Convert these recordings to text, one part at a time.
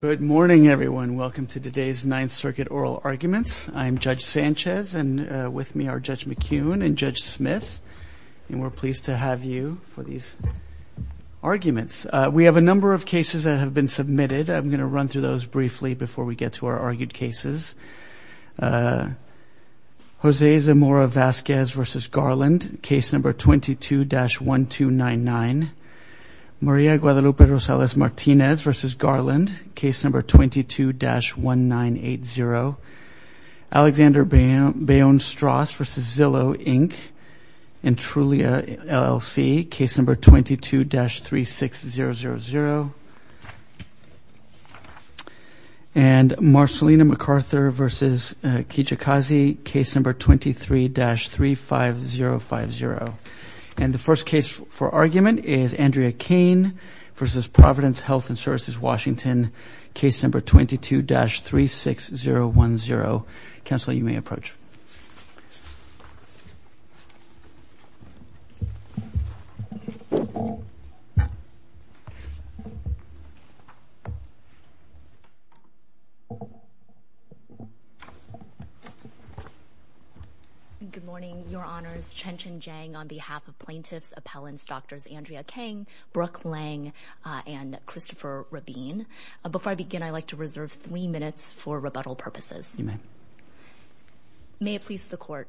Good morning, everyone. Welcome to today's Ninth Circuit Oral Arguments. I'm Judge Sanchez and with me are Judge McCune and Judge Smith, and we're pleased to have you for these arguments. We have a number of cases that have been submitted. I'm going to run through those briefly before we get to our argued cases. Jose Zamora-Vazquez v. Garland, case number 22-1299. Maria Guadalupe Rosales-Martinez v. Garland, case number 22-1980. Alexander Bayonne-Stross v. Zillow, Inc., in Trulia, LLC, case number 22-36000. And Marcelina MacArthur v. Kijikazi, case number 23-35050. And the first case for argument is Andrea Kane v. Providence Health and Services, Washington, case number 22-36010. Counselor, you may approach. Good morning, Your Honors. Chen-Chen Jiang on behalf of plaintiffs, appellants, Drs. Andrea Kane, Brooke Lang, and Christopher Rabin. Before I begin, I'd like to reserve three minutes for rebuttal purposes. You may. May it please the Court.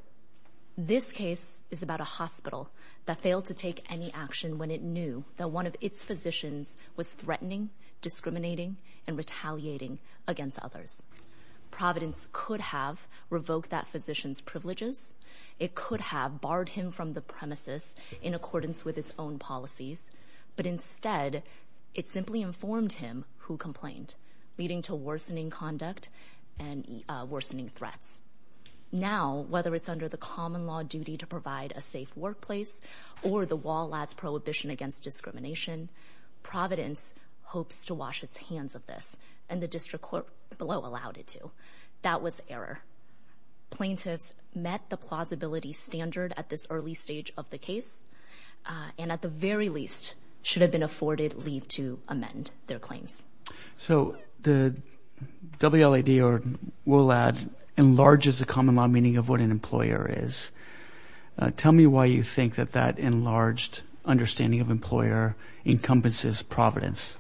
This case is about a hospital that failed to take any action when it knew that one of its physicians was threatening, discriminating, and retaliating against others. Providence could have revoked that physician's privileges. It could have barred him from the premises in accordance with its own policies. But instead, it simply informed him who complained, leading to worsening conduct and worsening threats. Now, whether it's under the common law duty to provide a safe workplace or the wall ads prohibition against discrimination, Providence hopes to wash its hands of this. And the district court below allowed it to. That was error. Plaintiffs met the plausibility standard at this early stage of the case. And at the very least, should have been afforded leave to amend their claims. So the WLAD or will add enlarges the common law meaning of what an employer is. Tell me why you think that that enlarged understanding of employer encompasses Providence.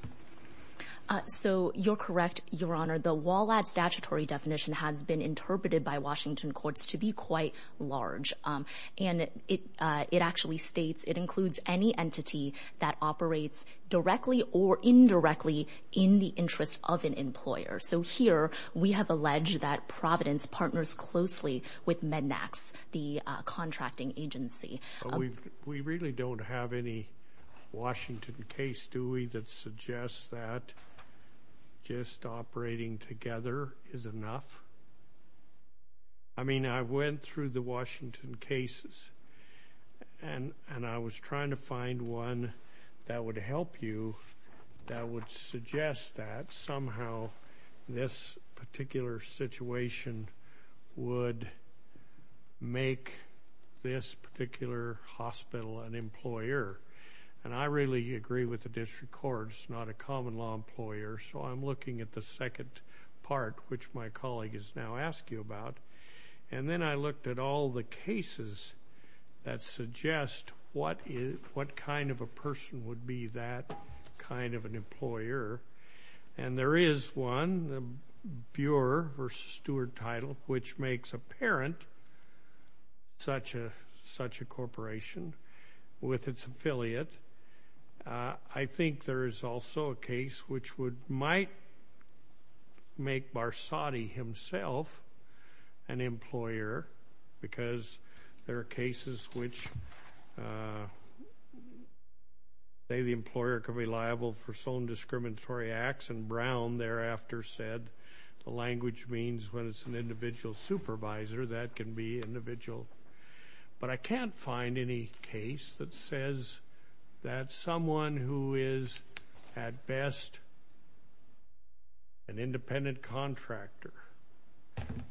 So you're correct. Your Honor, the wall at statutory definition has been interpreted by Washington courts to be quite large. And it it actually states it includes any entity that operates directly or indirectly in the interest of an employer. So here we have alleged that Providence partners closely with Mednax, the contracting agency. We really don't have any Washington case, do we? That suggests that just operating together is enough. I mean, I went through the Washington cases and I was trying to find one that would help you. That would suggest that somehow this particular situation would make this particular hospital an employer. And I really agree with the district court. It's not a common law employer. So I'm looking at the second part, which my colleague is now asking about. And then I looked at all the cases that suggest what kind of a person would be that kind of an employer. And there is one, the Burer versus Steward title, which makes apparent such a corporation with its affiliate. I think there is also a case which might make Barsotti himself an employer, because there are cases which say the employer could be liable for some discriminatory acts. And Brown thereafter said the language means when it's an individual supervisor, that can be individual. But I can't find any case that says that someone who is at best an independent contractor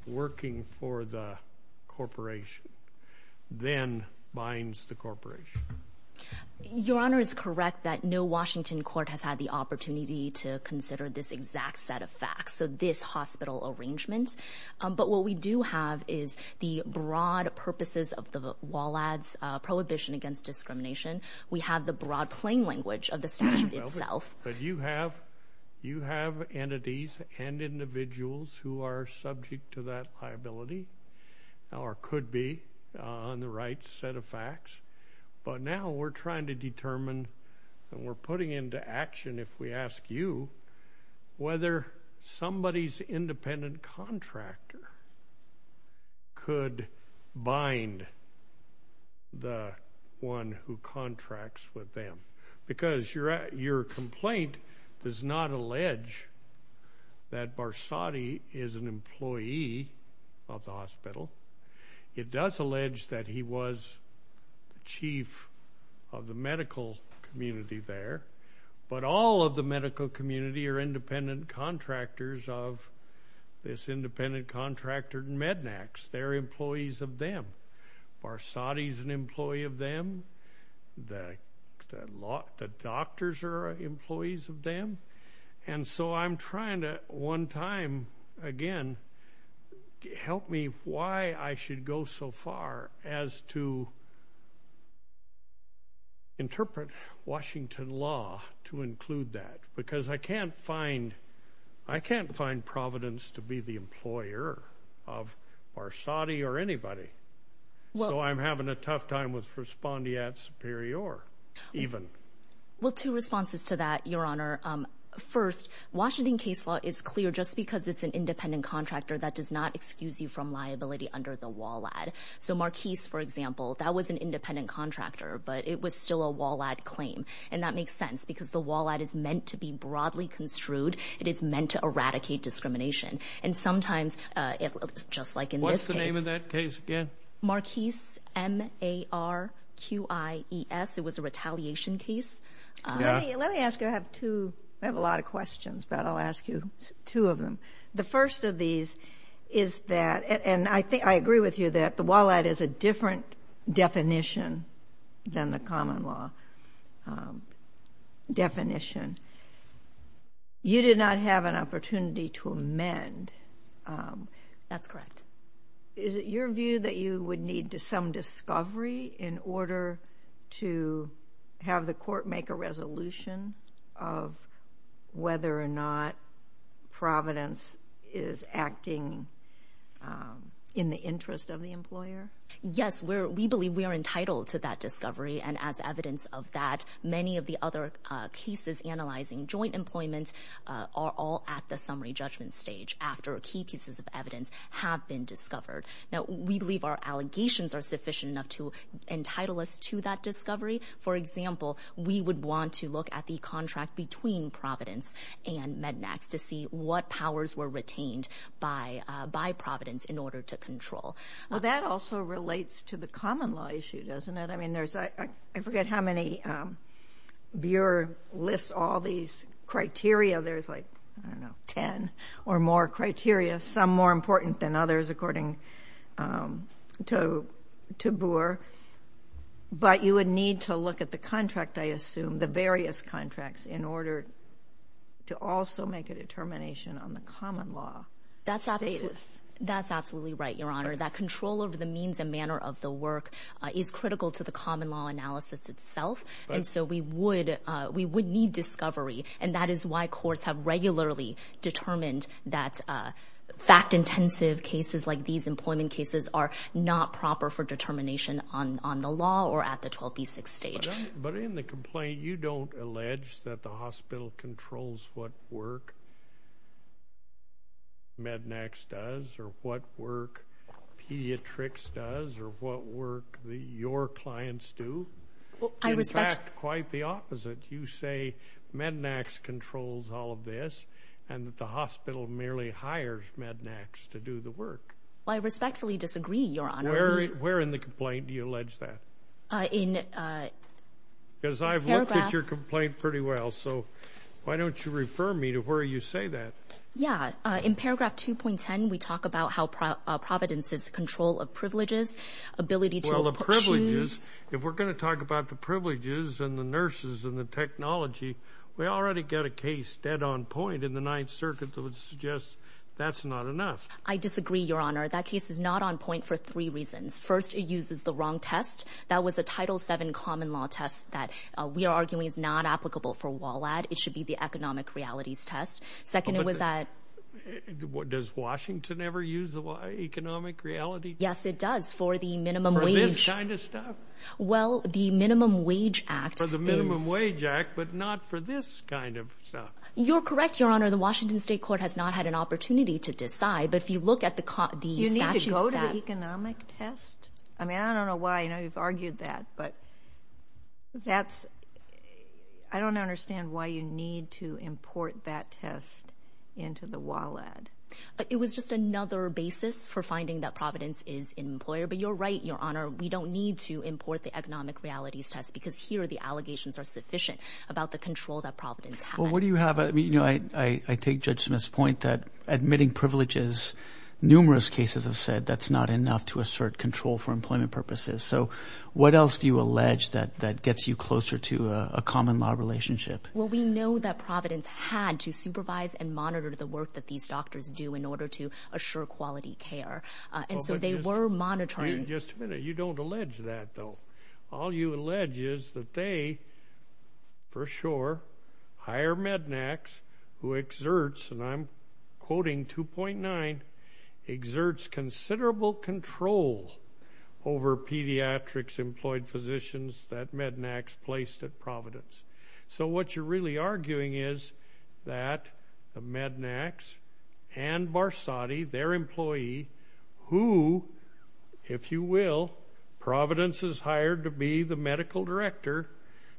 working for the corporation then binds the corporation. Your Honor is correct that no Washington court has had the opportunity to consider this exact set of facts, so this hospital arrangement. But what we do have is the broad purposes of the WALADS, Prohibition Against Discrimination. We have the broad plain language of the statute itself. But you have entities and individuals who are subject to that liability or could be on the right set of facts. But now we're trying to determine, and we're putting into action if we ask you, whether somebody's independent contractor could bind the one who contracts with them. Because your complaint does not allege that Barsotti is an employee of the hospital. It does allege that he was chief of the medical community there. But all of the medical community are independent contractors of this independent contractor, Mednax. They're employees of them. Barsotti's an employee of them. The doctors are employees of them. And so I'm trying to, one time again, help me why I should go so far as to interpret Washington law to include that. Because I can't find Providence to be the employer of Barsotti or anybody. So I'm having a tough time with Respondiat Superior even. Well, two responses to that, Your Honor. First, Washington case law is clear just because it's an independent contractor. That does not excuse you from liability under the WALAD. So Marquise, for example, that was an independent contractor, but it was still a WALAD claim. And that makes sense because the WALAD is meant to be broadly construed. It is meant to eradicate discrimination. And sometimes it looks just like in this case. What's the name of that case again? Marquise, M-A-R-Q-I-E-S. It was a retaliation case. Let me ask you. I have two. I have a lot of questions, but I'll ask you two of them. The first of these is that, and I agree with you that the WALAD is a different definition than the common law definition. You did not have an opportunity to amend. That's correct. Is it your view that you would need some discovery in order to have the court make a resolution of whether or not Providence is acting in the interest of the employer? Yes. We believe we are entitled to that discovery, and as evidence of that, many of the other cases analyzing joint employment are all at the summary judgment stage after key pieces of evidence have been discovered. Now, we believe our allegations are sufficient enough to entitle us to that discovery. For example, we would want to look at the contract between Providence and Mednax to see what powers were retained by Providence in order to control. Well, that also relates to the common law issue, doesn't it? I mean, I forget how many Bure lists all these criteria. There's like, I don't know, 10 or more criteria, some more important than others, according to Bure. But you would need to look at the contract, I assume, the various contracts, in order to also make a determination on the common law. That's absolutely right, Your Honor. That control over the means and manner of the work is critical to the common law analysis itself, and so we would need discovery. And that is why courts have regularly determined that fact-intensive cases like these employment cases are not proper for determination on the law or at the 12B6 stage. But in the complaint, you don't allege that the hospital controls what work Mednax does or what work Pediatrics does or what work your clients do. In fact, quite the opposite. You say Mednax controls all of this and that the hospital merely hires Mednax to do the work. Well, I respectfully disagree, Your Honor. Where in the complaint do you allege that? Because I've looked at your complaint pretty well, so why don't you refer me to where you say that? Yeah. In paragraph 2.10, we talk about how Providence's control of privileges, ability to choose. Well, the privileges, if we're going to talk about the privileges and the nurses and the technology, we already get a case dead on point in the Ninth Circuit that would suggest that's not enough. I disagree, Your Honor. That case is not on point for three reasons. First, it uses the wrong test. That was a Title VII common law test that we are arguing is not applicable for WALAD. It should be the economic realities test. Second, it was at... Does Washington ever use the economic reality test? Yes, it does for the minimum wage. For this kind of stuff? Well, the Minimum Wage Act is... For the Minimum Wage Act, but not for this kind of stuff. You're correct, Your Honor. The Washington State Court has not had an opportunity to decide, but if you look at the statute... You need to go to the economic test? I mean, I don't know why. I know you've argued that, but that's... I don't understand why you need to import that test into the WALAD. It was just another basis for finding that Providence is an employer, but you're right, Your Honor. We don't need to import the economic realities test because here the allegations are sufficient about the control that Providence has. Well, what do you have... I mean, I take Judge Smith's point that admitting privileges, numerous cases have said that's not enough to assert control for employment purposes. So what else do you allege that gets you closer to a common law relationship? Well, we know that Providence had to supervise and monitor the work that these doctors do in order to assure quality care. And so they were monitoring... Just a minute. You don't allege that, though. All you allege is that they, for sure, hire Mednax, who exerts, and I'm quoting 2.9, exerts considerable control over pediatrics-employed physicians that Mednax placed at Providence. So what you're really arguing is that Mednax and Barsotti, their employee, who, if you will, Providence has hired to be the medical director,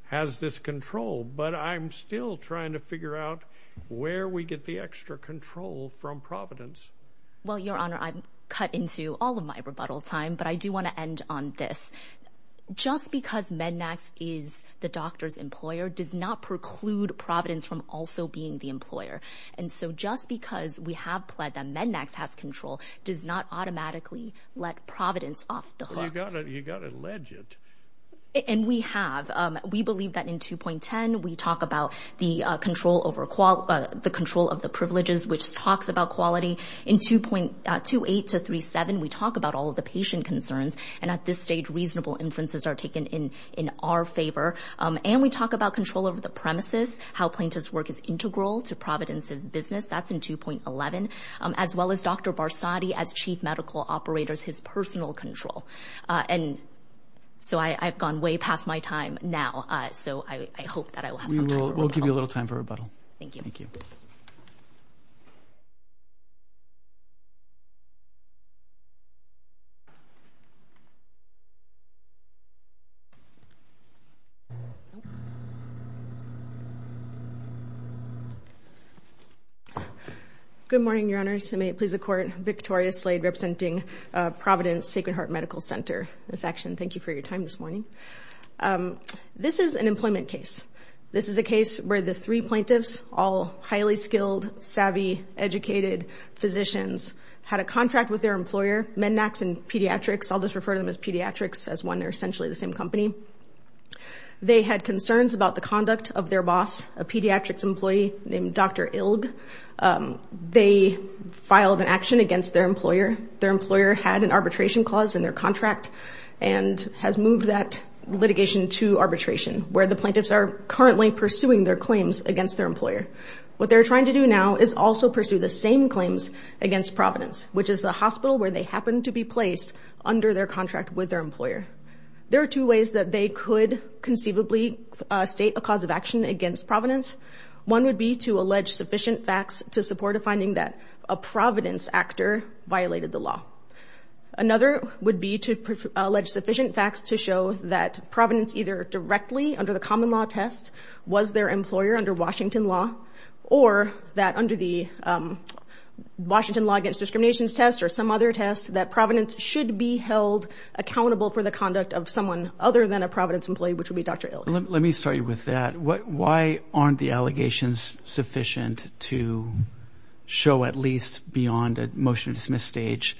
has this control. But I'm still trying to figure out where we get the extra control from Providence. Well, Your Honor, I'm cut into all of my rebuttal time, but I do want to end on this. Just because Mednax is the doctor's employer does not preclude Providence from also being the employer. And so just because we have pled that Mednax has control does not automatically let Providence off the hook. Well, you've got to allege it. And we have. We believe that in 2.10, we talk about the control of the privileges, which talks about quality. In 2.28 to 3.7, we talk about all of the patient concerns. And at this stage, reasonable inferences are taken in our favor. And we talk about control over the premises, how plaintiff's work is integral to Providence's business. That's in 2.11, as well as Dr. Barsotti as chief medical operators, his personal control. And so I've gone way past my time now. So I hope that I will have some time for rebuttal. We'll give you a little time for rebuttal. Thank you. Thank you. Thank you. Good morning, Your Honors. May it please the Court. Victoria Slade representing Providence Sacred Heart Medical Center. This action, thank you for your time this morning. This is an employment case. This is a case where the three plaintiffs, all highly skilled, savvy, educated physicians, had a contract with their employer, Mednax and Pediatrics. I'll just refer to them as Pediatrics as one. They're essentially the same company. They had concerns about the conduct of their boss, a pediatrics employee named Dr. Ilg. They filed an action against their employer. Their employer had an arbitration clause in their contract and has moved that litigation to arbitration, where the plaintiffs are currently pursuing their claims against their employer. What they're trying to do now is also pursue the same claims against Providence, which is the hospital where they happen to be placed under their contract with their employer. There are two ways that they could conceivably state a cause of action against Providence. One would be to allege sufficient facts to support a finding that a Providence actor violated the law. Another would be to allege sufficient facts to show that Providence either directly, under the common law test, was their employer under Washington law, or that under the Washington law against discrimination test or some other test, that Providence should be held accountable for the conduct of someone other than a Providence employee, which would be Dr. Ilg. Let me start you with that. Why aren't the allegations sufficient to show at least beyond a motion to dismiss stage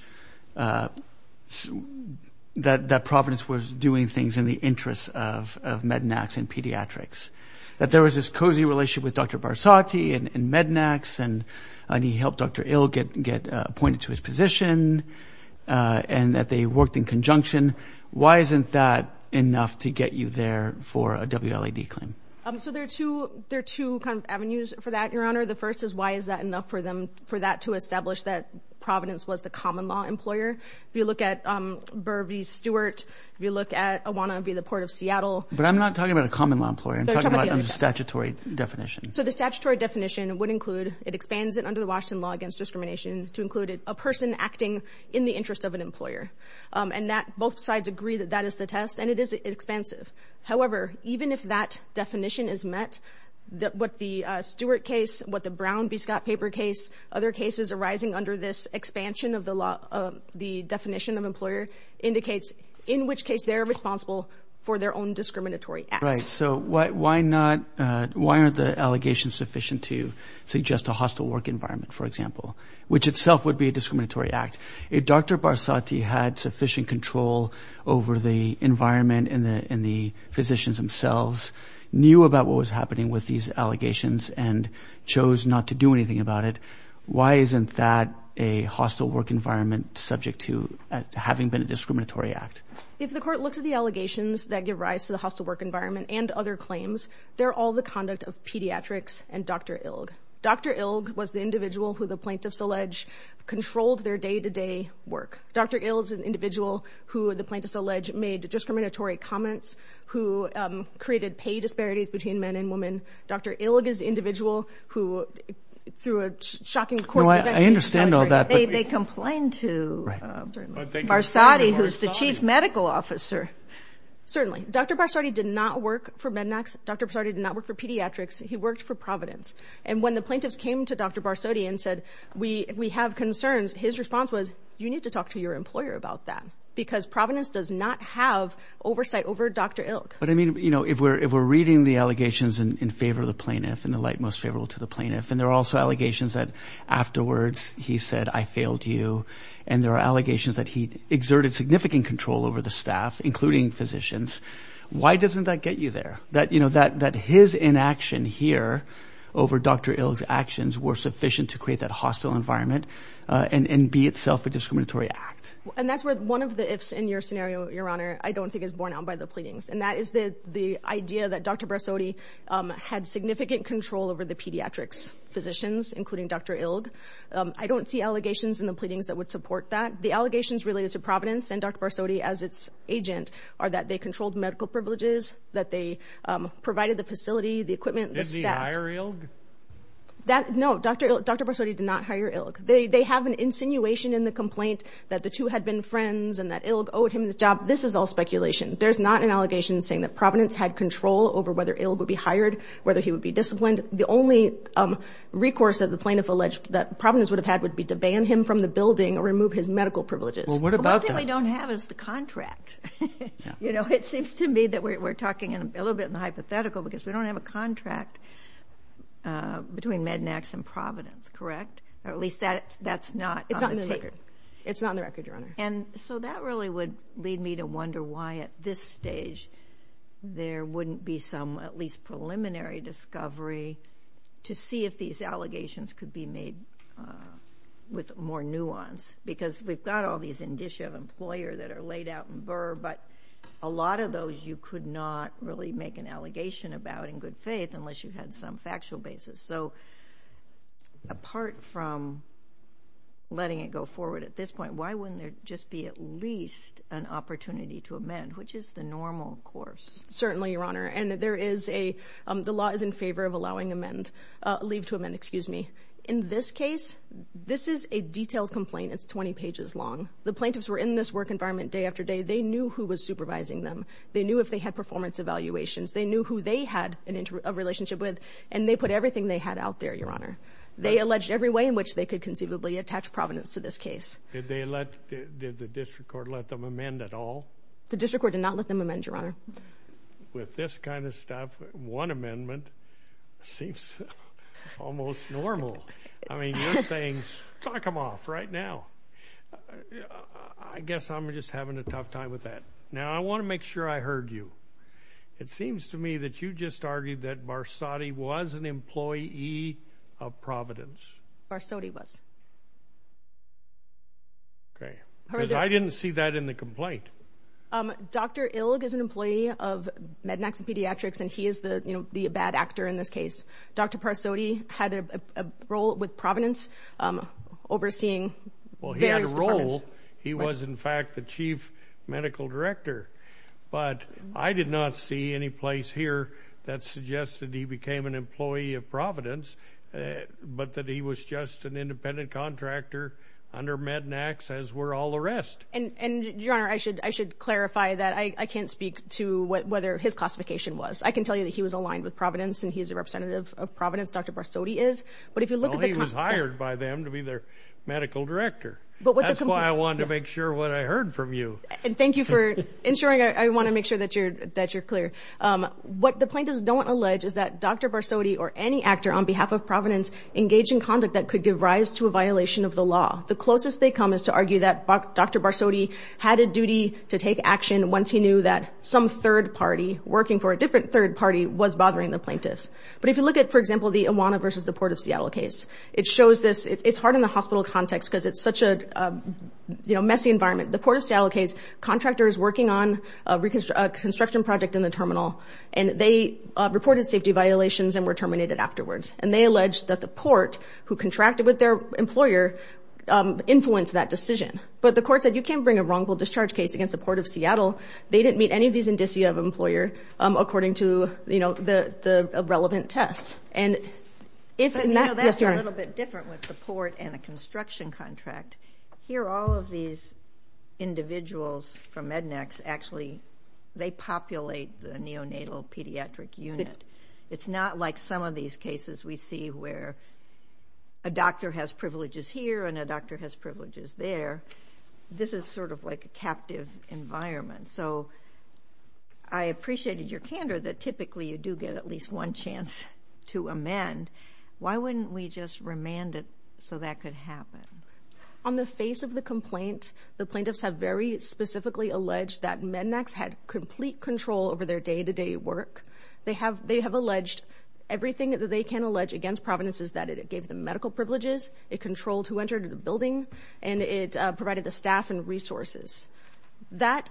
that Providence was doing things in the interest of Mednax and pediatrics? That there was this cozy relationship with Dr. Barsotti and Mednax, and he helped Dr. Ilg get appointed to his position, and that they worked in conjunction. Why isn't that enough to get you there for a WLAD claim? There are two avenues for that, Your Honor. The first is why is that enough for that to establish that Providence was the common law employer. If you look at Burbee-Stewart, if you look at Awana via the Port of Seattle. But I'm not talking about a common law employer. I'm talking about a statutory definition. The statutory definition would include, it expands it under the Washington law against discrimination, to include a person acting in the interest of an employer. And both sides agree that that is the test, and it is expansive. However, even if that definition is met, what the Stewart case, what the Brown v. Scott paper case, other cases arising under this expansion of the definition of employer, indicates in which case they're responsible for their own discriminatory acts. So why aren't the allegations sufficient to suggest a hostile work environment, for example, which itself would be a discriminatory act? If Dr. Barsotti had sufficient control over the environment and the physicians themselves, knew about what was happening with these allegations and chose not to do anything about it, why isn't that a hostile work environment subject to having been a discriminatory act? If the court looks at the allegations that give rise to the hostile work environment and other claims, they're all the conduct of pediatrics and Dr. Ilg. Dr. Ilg was the individual who the plaintiffs allege controlled their day-to-day work. Dr. Ilg is an individual who the plaintiffs allege made discriminatory comments, who created pay disparities between men and women. Dr. Ilg is an individual who, through a shocking course of events, Well, I understand all that. They complained to Barsotti, who's the chief medical officer. Certainly. Dr. Barsotti did not work for Mednax. Dr. Barsotti did not work for pediatrics. He worked for Providence. And when the plaintiffs came to Dr. Barsotti and said, we have concerns, his response was, you need to talk to your employer about that, because Providence does not have oversight over Dr. Ilg. But, I mean, you know, if we're reading the allegations in favor of the plaintiff and the light most favorable to the plaintiff, and there are also allegations that afterwards he said, I failed you, and there are allegations that he exerted significant control over the staff, including physicians, why doesn't that get you there? That his inaction here over Dr. Ilg's actions were sufficient to create that hostile environment and be itself a discriminatory act. And that's where one of the ifs in your scenario, Your Honor, I don't think is borne out by the pleadings, and that is the idea that Dr. Barsotti had significant control over the pediatrics physicians, including Dr. Ilg. I don't see allegations in the pleadings that would support that. The allegations related to Providence and Dr. Barsotti as its agent are that they controlled medical privileges, that they provided the facility, the equipment, the staff. Did he hire Ilg? No, Dr. Barsotti did not hire Ilg. They have an insinuation in the complaint that the two had been friends and that Ilg owed him the job. This is all speculation. There's not an allegation saying that Providence had control over whether Ilg would be hired, whether he would be disciplined. The only recourse that the plaintiff alleged that Providence would have had would be to ban him from the building or remove his medical privileges. Well, what about that? All we don't have is the contract. You know, it seems to me that we're talking a little bit in the hypothetical because we don't have a contract between Mednax and Providence, correct? Or at least that's not on the tape. It's not on the record, Your Honor. And so that really would lead me to wonder why at this stage there wouldn't be some at least preliminary discovery to see if these allegations could be made with more nuance because we've got all these indicia of employer that are laid out in VRR, but a lot of those you could not really make an allegation about in good faith unless you had some factual basis. So apart from letting it go forward at this point, why wouldn't there just be at least an opportunity to amend, which is the normal course? Certainly, Your Honor. And the law is in favor of allowing leave to amend. In this case, this is a detailed complaint. It's 20 pages long. The plaintiffs were in this work environment day after day. They knew who was supervising them. They knew if they had performance evaluations. They knew who they had a relationship with, and they put everything they had out there, Your Honor. They alleged every way in which they could conceivably attach Providence to this case. Did the district court let them amend at all? The district court did not let them amend, Your Honor. With this kind of stuff, one amendment seems almost normal. I mean, you're saying stock them off right now. I guess I'm just having a tough time with that. Now, I want to make sure I heard you. It seems to me that you just argued that Barsotti was an employee of Providence. Barsotti was. Okay. Because I didn't see that in the complaint. Dr. Ilg is an employee of Mednax Pediatrics, and he is the bad actor in this case. Dr. Barsotti had a role with Providence overseeing various departments. Well, he had a role. He was, in fact, the chief medical director. But I did not see any place here that suggested he became an employee of Providence, but that he was just an independent contractor under Mednax, as were all the rest. And, Your Honor, I should clarify that I can't speak to whether his classification was. I can tell you that he was aligned with Providence, and he is a representative of Providence. Dr. Barsotti is. But if you look at the... Well, he was hired by them to be their medical director. That's why I wanted to make sure what I heard from you. And thank you for ensuring. I want to make sure that you're clear. What the plaintiffs don't allege is that Dr. Barsotti or any actor on behalf of Providence engaged in conduct that could give rise to a violation of the law. The closest they come is to argue that Dr. Barsotti had a duty to take action once he knew that some third party working for a different third party was bothering the plaintiffs. But if you look at, for example, the Iwana versus the Port of Seattle case, it shows this... It's hard in the hospital context because it's such a messy environment. The Port of Seattle case, contractor is working on a construction project in the terminal, and they reported safety violations and were terminated afterwards. And they alleged that the port, who contracted with their employer, influenced that decision. But the court said you can't bring a wrongful discharge case against the Port of Seattle. They didn't meet any of these indicia of employer according to the relevant tests. That's a little bit different with the port and a construction contract. Here, all of these individuals from Mednex, actually, they populate the neonatal pediatric unit. It's not like some of these cases we see where a doctor has privileges here and a doctor has privileges there. This is sort of like a captive environment. So I appreciated your candor that typically you do get at least one chance to amend. Why wouldn't we just remand it so that could happen? On the face of the complaint, the plaintiffs have very specifically alleged that Mednex had complete control over their day-to-day work. They have alleged everything that they can allege against Providence is that it gave them medical privileges, it controlled who entered the building, and it provided the staff and resources. And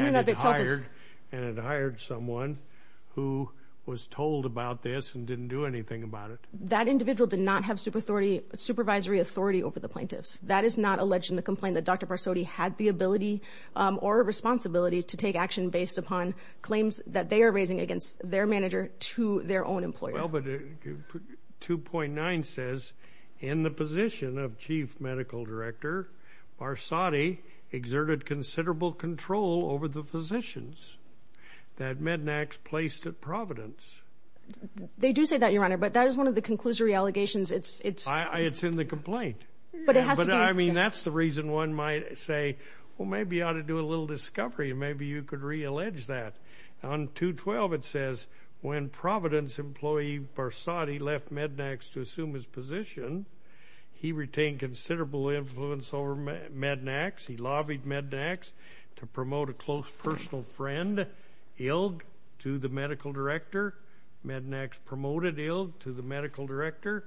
it hired someone who was told about this and didn't do anything about it. That individual did not have supervisory authority over the plaintiffs. That is not alleged in the complaint that Dr. Parsodi had the ability or responsibility to take action based upon claims that they are raising against their manager to their own employer. Well, but 2.9 says, in the position of chief medical director, Parsodi exerted considerable control over the physicians that Mednex placed at Providence. They do say that, Your Honor, but that is one of the conclusory allegations. It's in the complaint. But I mean that's the reason one might say, well, maybe you ought to do a little discovery. Maybe you could reallege that. On 2.12 it says, when Providence employee Parsodi left Mednex to assume his position, he retained considerable influence over Mednex. He lobbied Mednex to promote a close personal friend ill to the medical director. Mednex promoted ill to the medical director.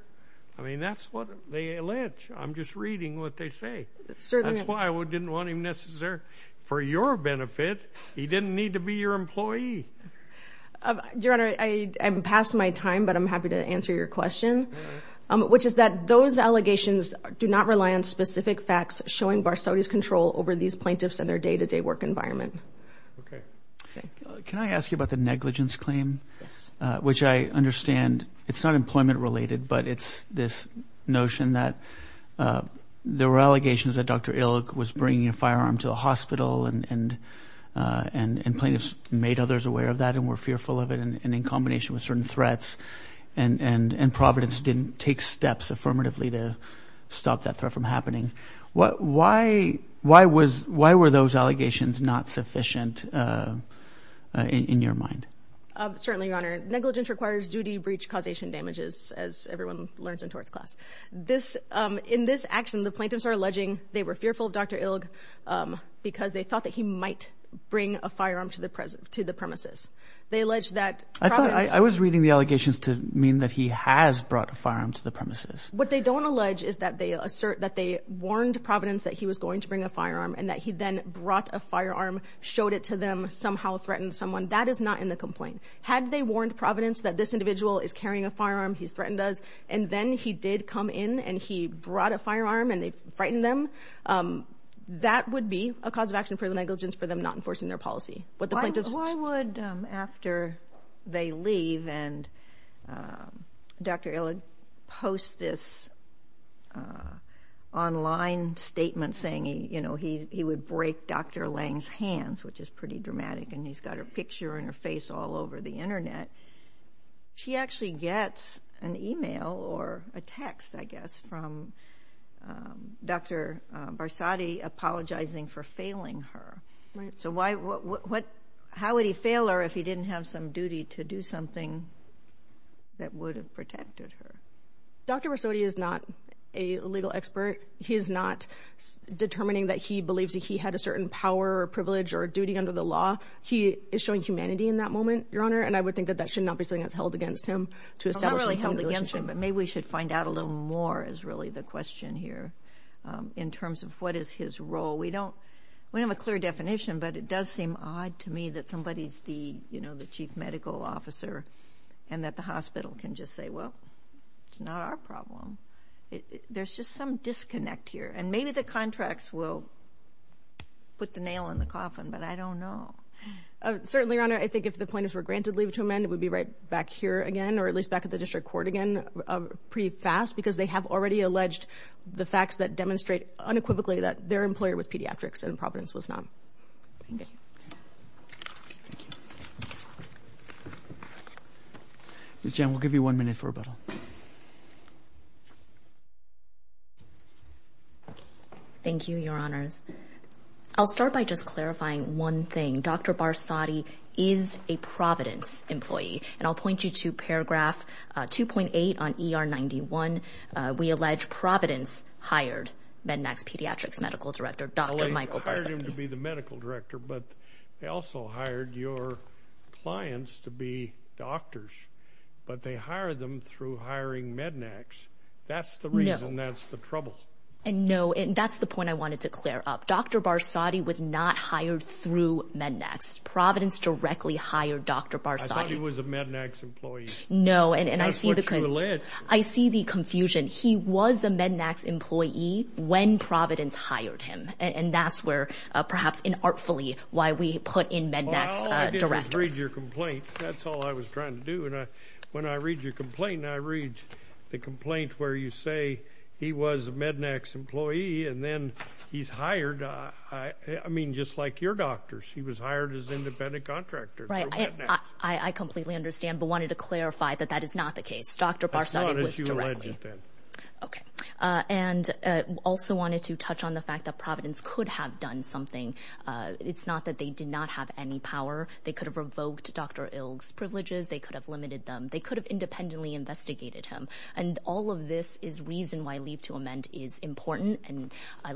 I mean that's what they allege. I'm just reading what they say. That's why we didn't want him necessary for your benefit. He didn't need to be your employee. Your Honor, I'm past my time, but I'm happy to answer your question, which is that those allegations do not rely on specific facts showing Parsodi's control over these plaintiffs and their day-to-day work environment. Okay. Thank you. Can I ask you about the negligence claim? Yes. Which I understand it's not employment related, but it's this notion that there were allegations that Dr. Ilk was bringing a firearm to a hospital and plaintiffs made others aware of that and were fearful of it and in combination with certain threats, and Providence didn't take steps affirmatively to stop that threat from happening. Why were those allegations not sufficient in your mind? Certainly, Your Honor. Negligence requires duty, breach, causation, damages, as everyone learns in torts class. In this action, the plaintiffs are alleging they were fearful of Dr. Ilk because they thought that he might bring a firearm to the premises. They allege that Providence I thought I was reading the allegations to mean that he has brought a firearm to the premises. What they don't allege is that they assert that they warned Providence that he was going to bring a firearm and that he then brought a firearm, showed it to them, somehow threatened someone. That is not in the complaint. Had they warned Providence that this individual is carrying a firearm, he's threatened us, and then he did come in and he brought a firearm and they frightened them, that would be a cause of action for the negligence for them not enforcing their policy. Why would, after they leave and Dr. Ilk posts this online statement saying he would break Dr. Lange's hands, which is pretty dramatic, and he's got her picture and her face all over the Internet, she actually gets an email or a text, I guess, from Dr. Barsotti apologizing for failing her. So how would he fail her if he didn't have some duty to do something that would have protected her? Dr. Barsotti is not a legal expert. He is not determining that he believes that he had a certain power or privilege or duty under the law. He is showing humanity in that moment, Your Honor, and I would think that that should not be something that's held against him to establish a relationship. It's not really held against him, but maybe we should find out a little more is really the question here in terms of what is his role. We don't have a clear definition, but it does seem odd to me that somebody is the chief medical officer and that the hospital can just say, well, it's not our problem. There's just some disconnect here, and maybe the contracts will put the nail in the coffin, but I don't know. Certainly, Your Honor, I think if the plaintiffs were granted leave to amend, it would be right back here again or at least back at the district court again pretty fast because they have already alleged the facts that demonstrate unequivocally that their employer was pediatrics and Providence was not. Ms. Chen, we'll give you one minute for rebuttal. Thank you, Your Honors. I'll start by just clarifying one thing. Dr. Barsotti is a Providence employee, and I'll point you to paragraph 2.8 on ER 91. We allege Providence hired Mednax Pediatrics Medical Director Dr. Michael Barsotti. Well, they hired him to be the medical director, but they also hired your clients to be doctors, but they hired them through hiring Mednax. That's the reason. That's the trouble. No, and that's the point I wanted to clear up. Dr. Barsotti was not hired through Mednax. Providence directly hired Dr. Barsotti. I thought he was a Mednax employee. No, and I see the confusion. He was a Mednax employee when Providence hired him, and that's where perhaps inartfully why we put in Mednax director. All I did was read your complaint. That's all I was trying to do, and when I read your complaint, I read the complaint where you say he was a Mednax employee, and then he's hired. I mean, just like your doctors, he was hired as independent contractor through Mednax. I completely understand, but wanted to clarify that that is not the case. Dr. Barsotti was directly. That's not what you alleged then. Okay. And also wanted to touch on the fact that Providence could have done something. It's not that they did not have any power. They could have revoked Dr. Ilg's privileges. They could have limited them. They could have independently investigated him, and all of this is reason why leave to amend is important, and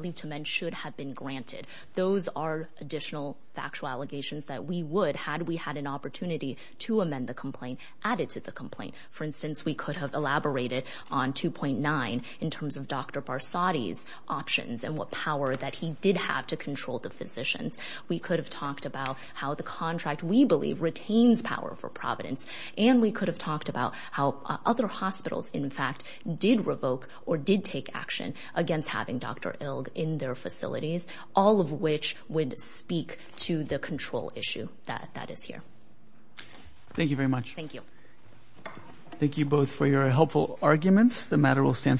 leave to amend should have been granted. Those are additional factual allegations that we would, had we had an opportunity to amend the complaint, add it to the complaint. For instance, we could have elaborated on 2.9 in terms of Dr. Barsotti's options and what power that he did have to control the physicians. We could have talked about how the contract, we believe, retains power for Providence, and we could have talked about how other hospitals, in fact, did revoke or did take action against having Dr. Ilg in their facilities, all of which would speak to the control issue that is here. Thank you very much. Thank you. Thank you both for your helpful arguments. The matter will stand submitted.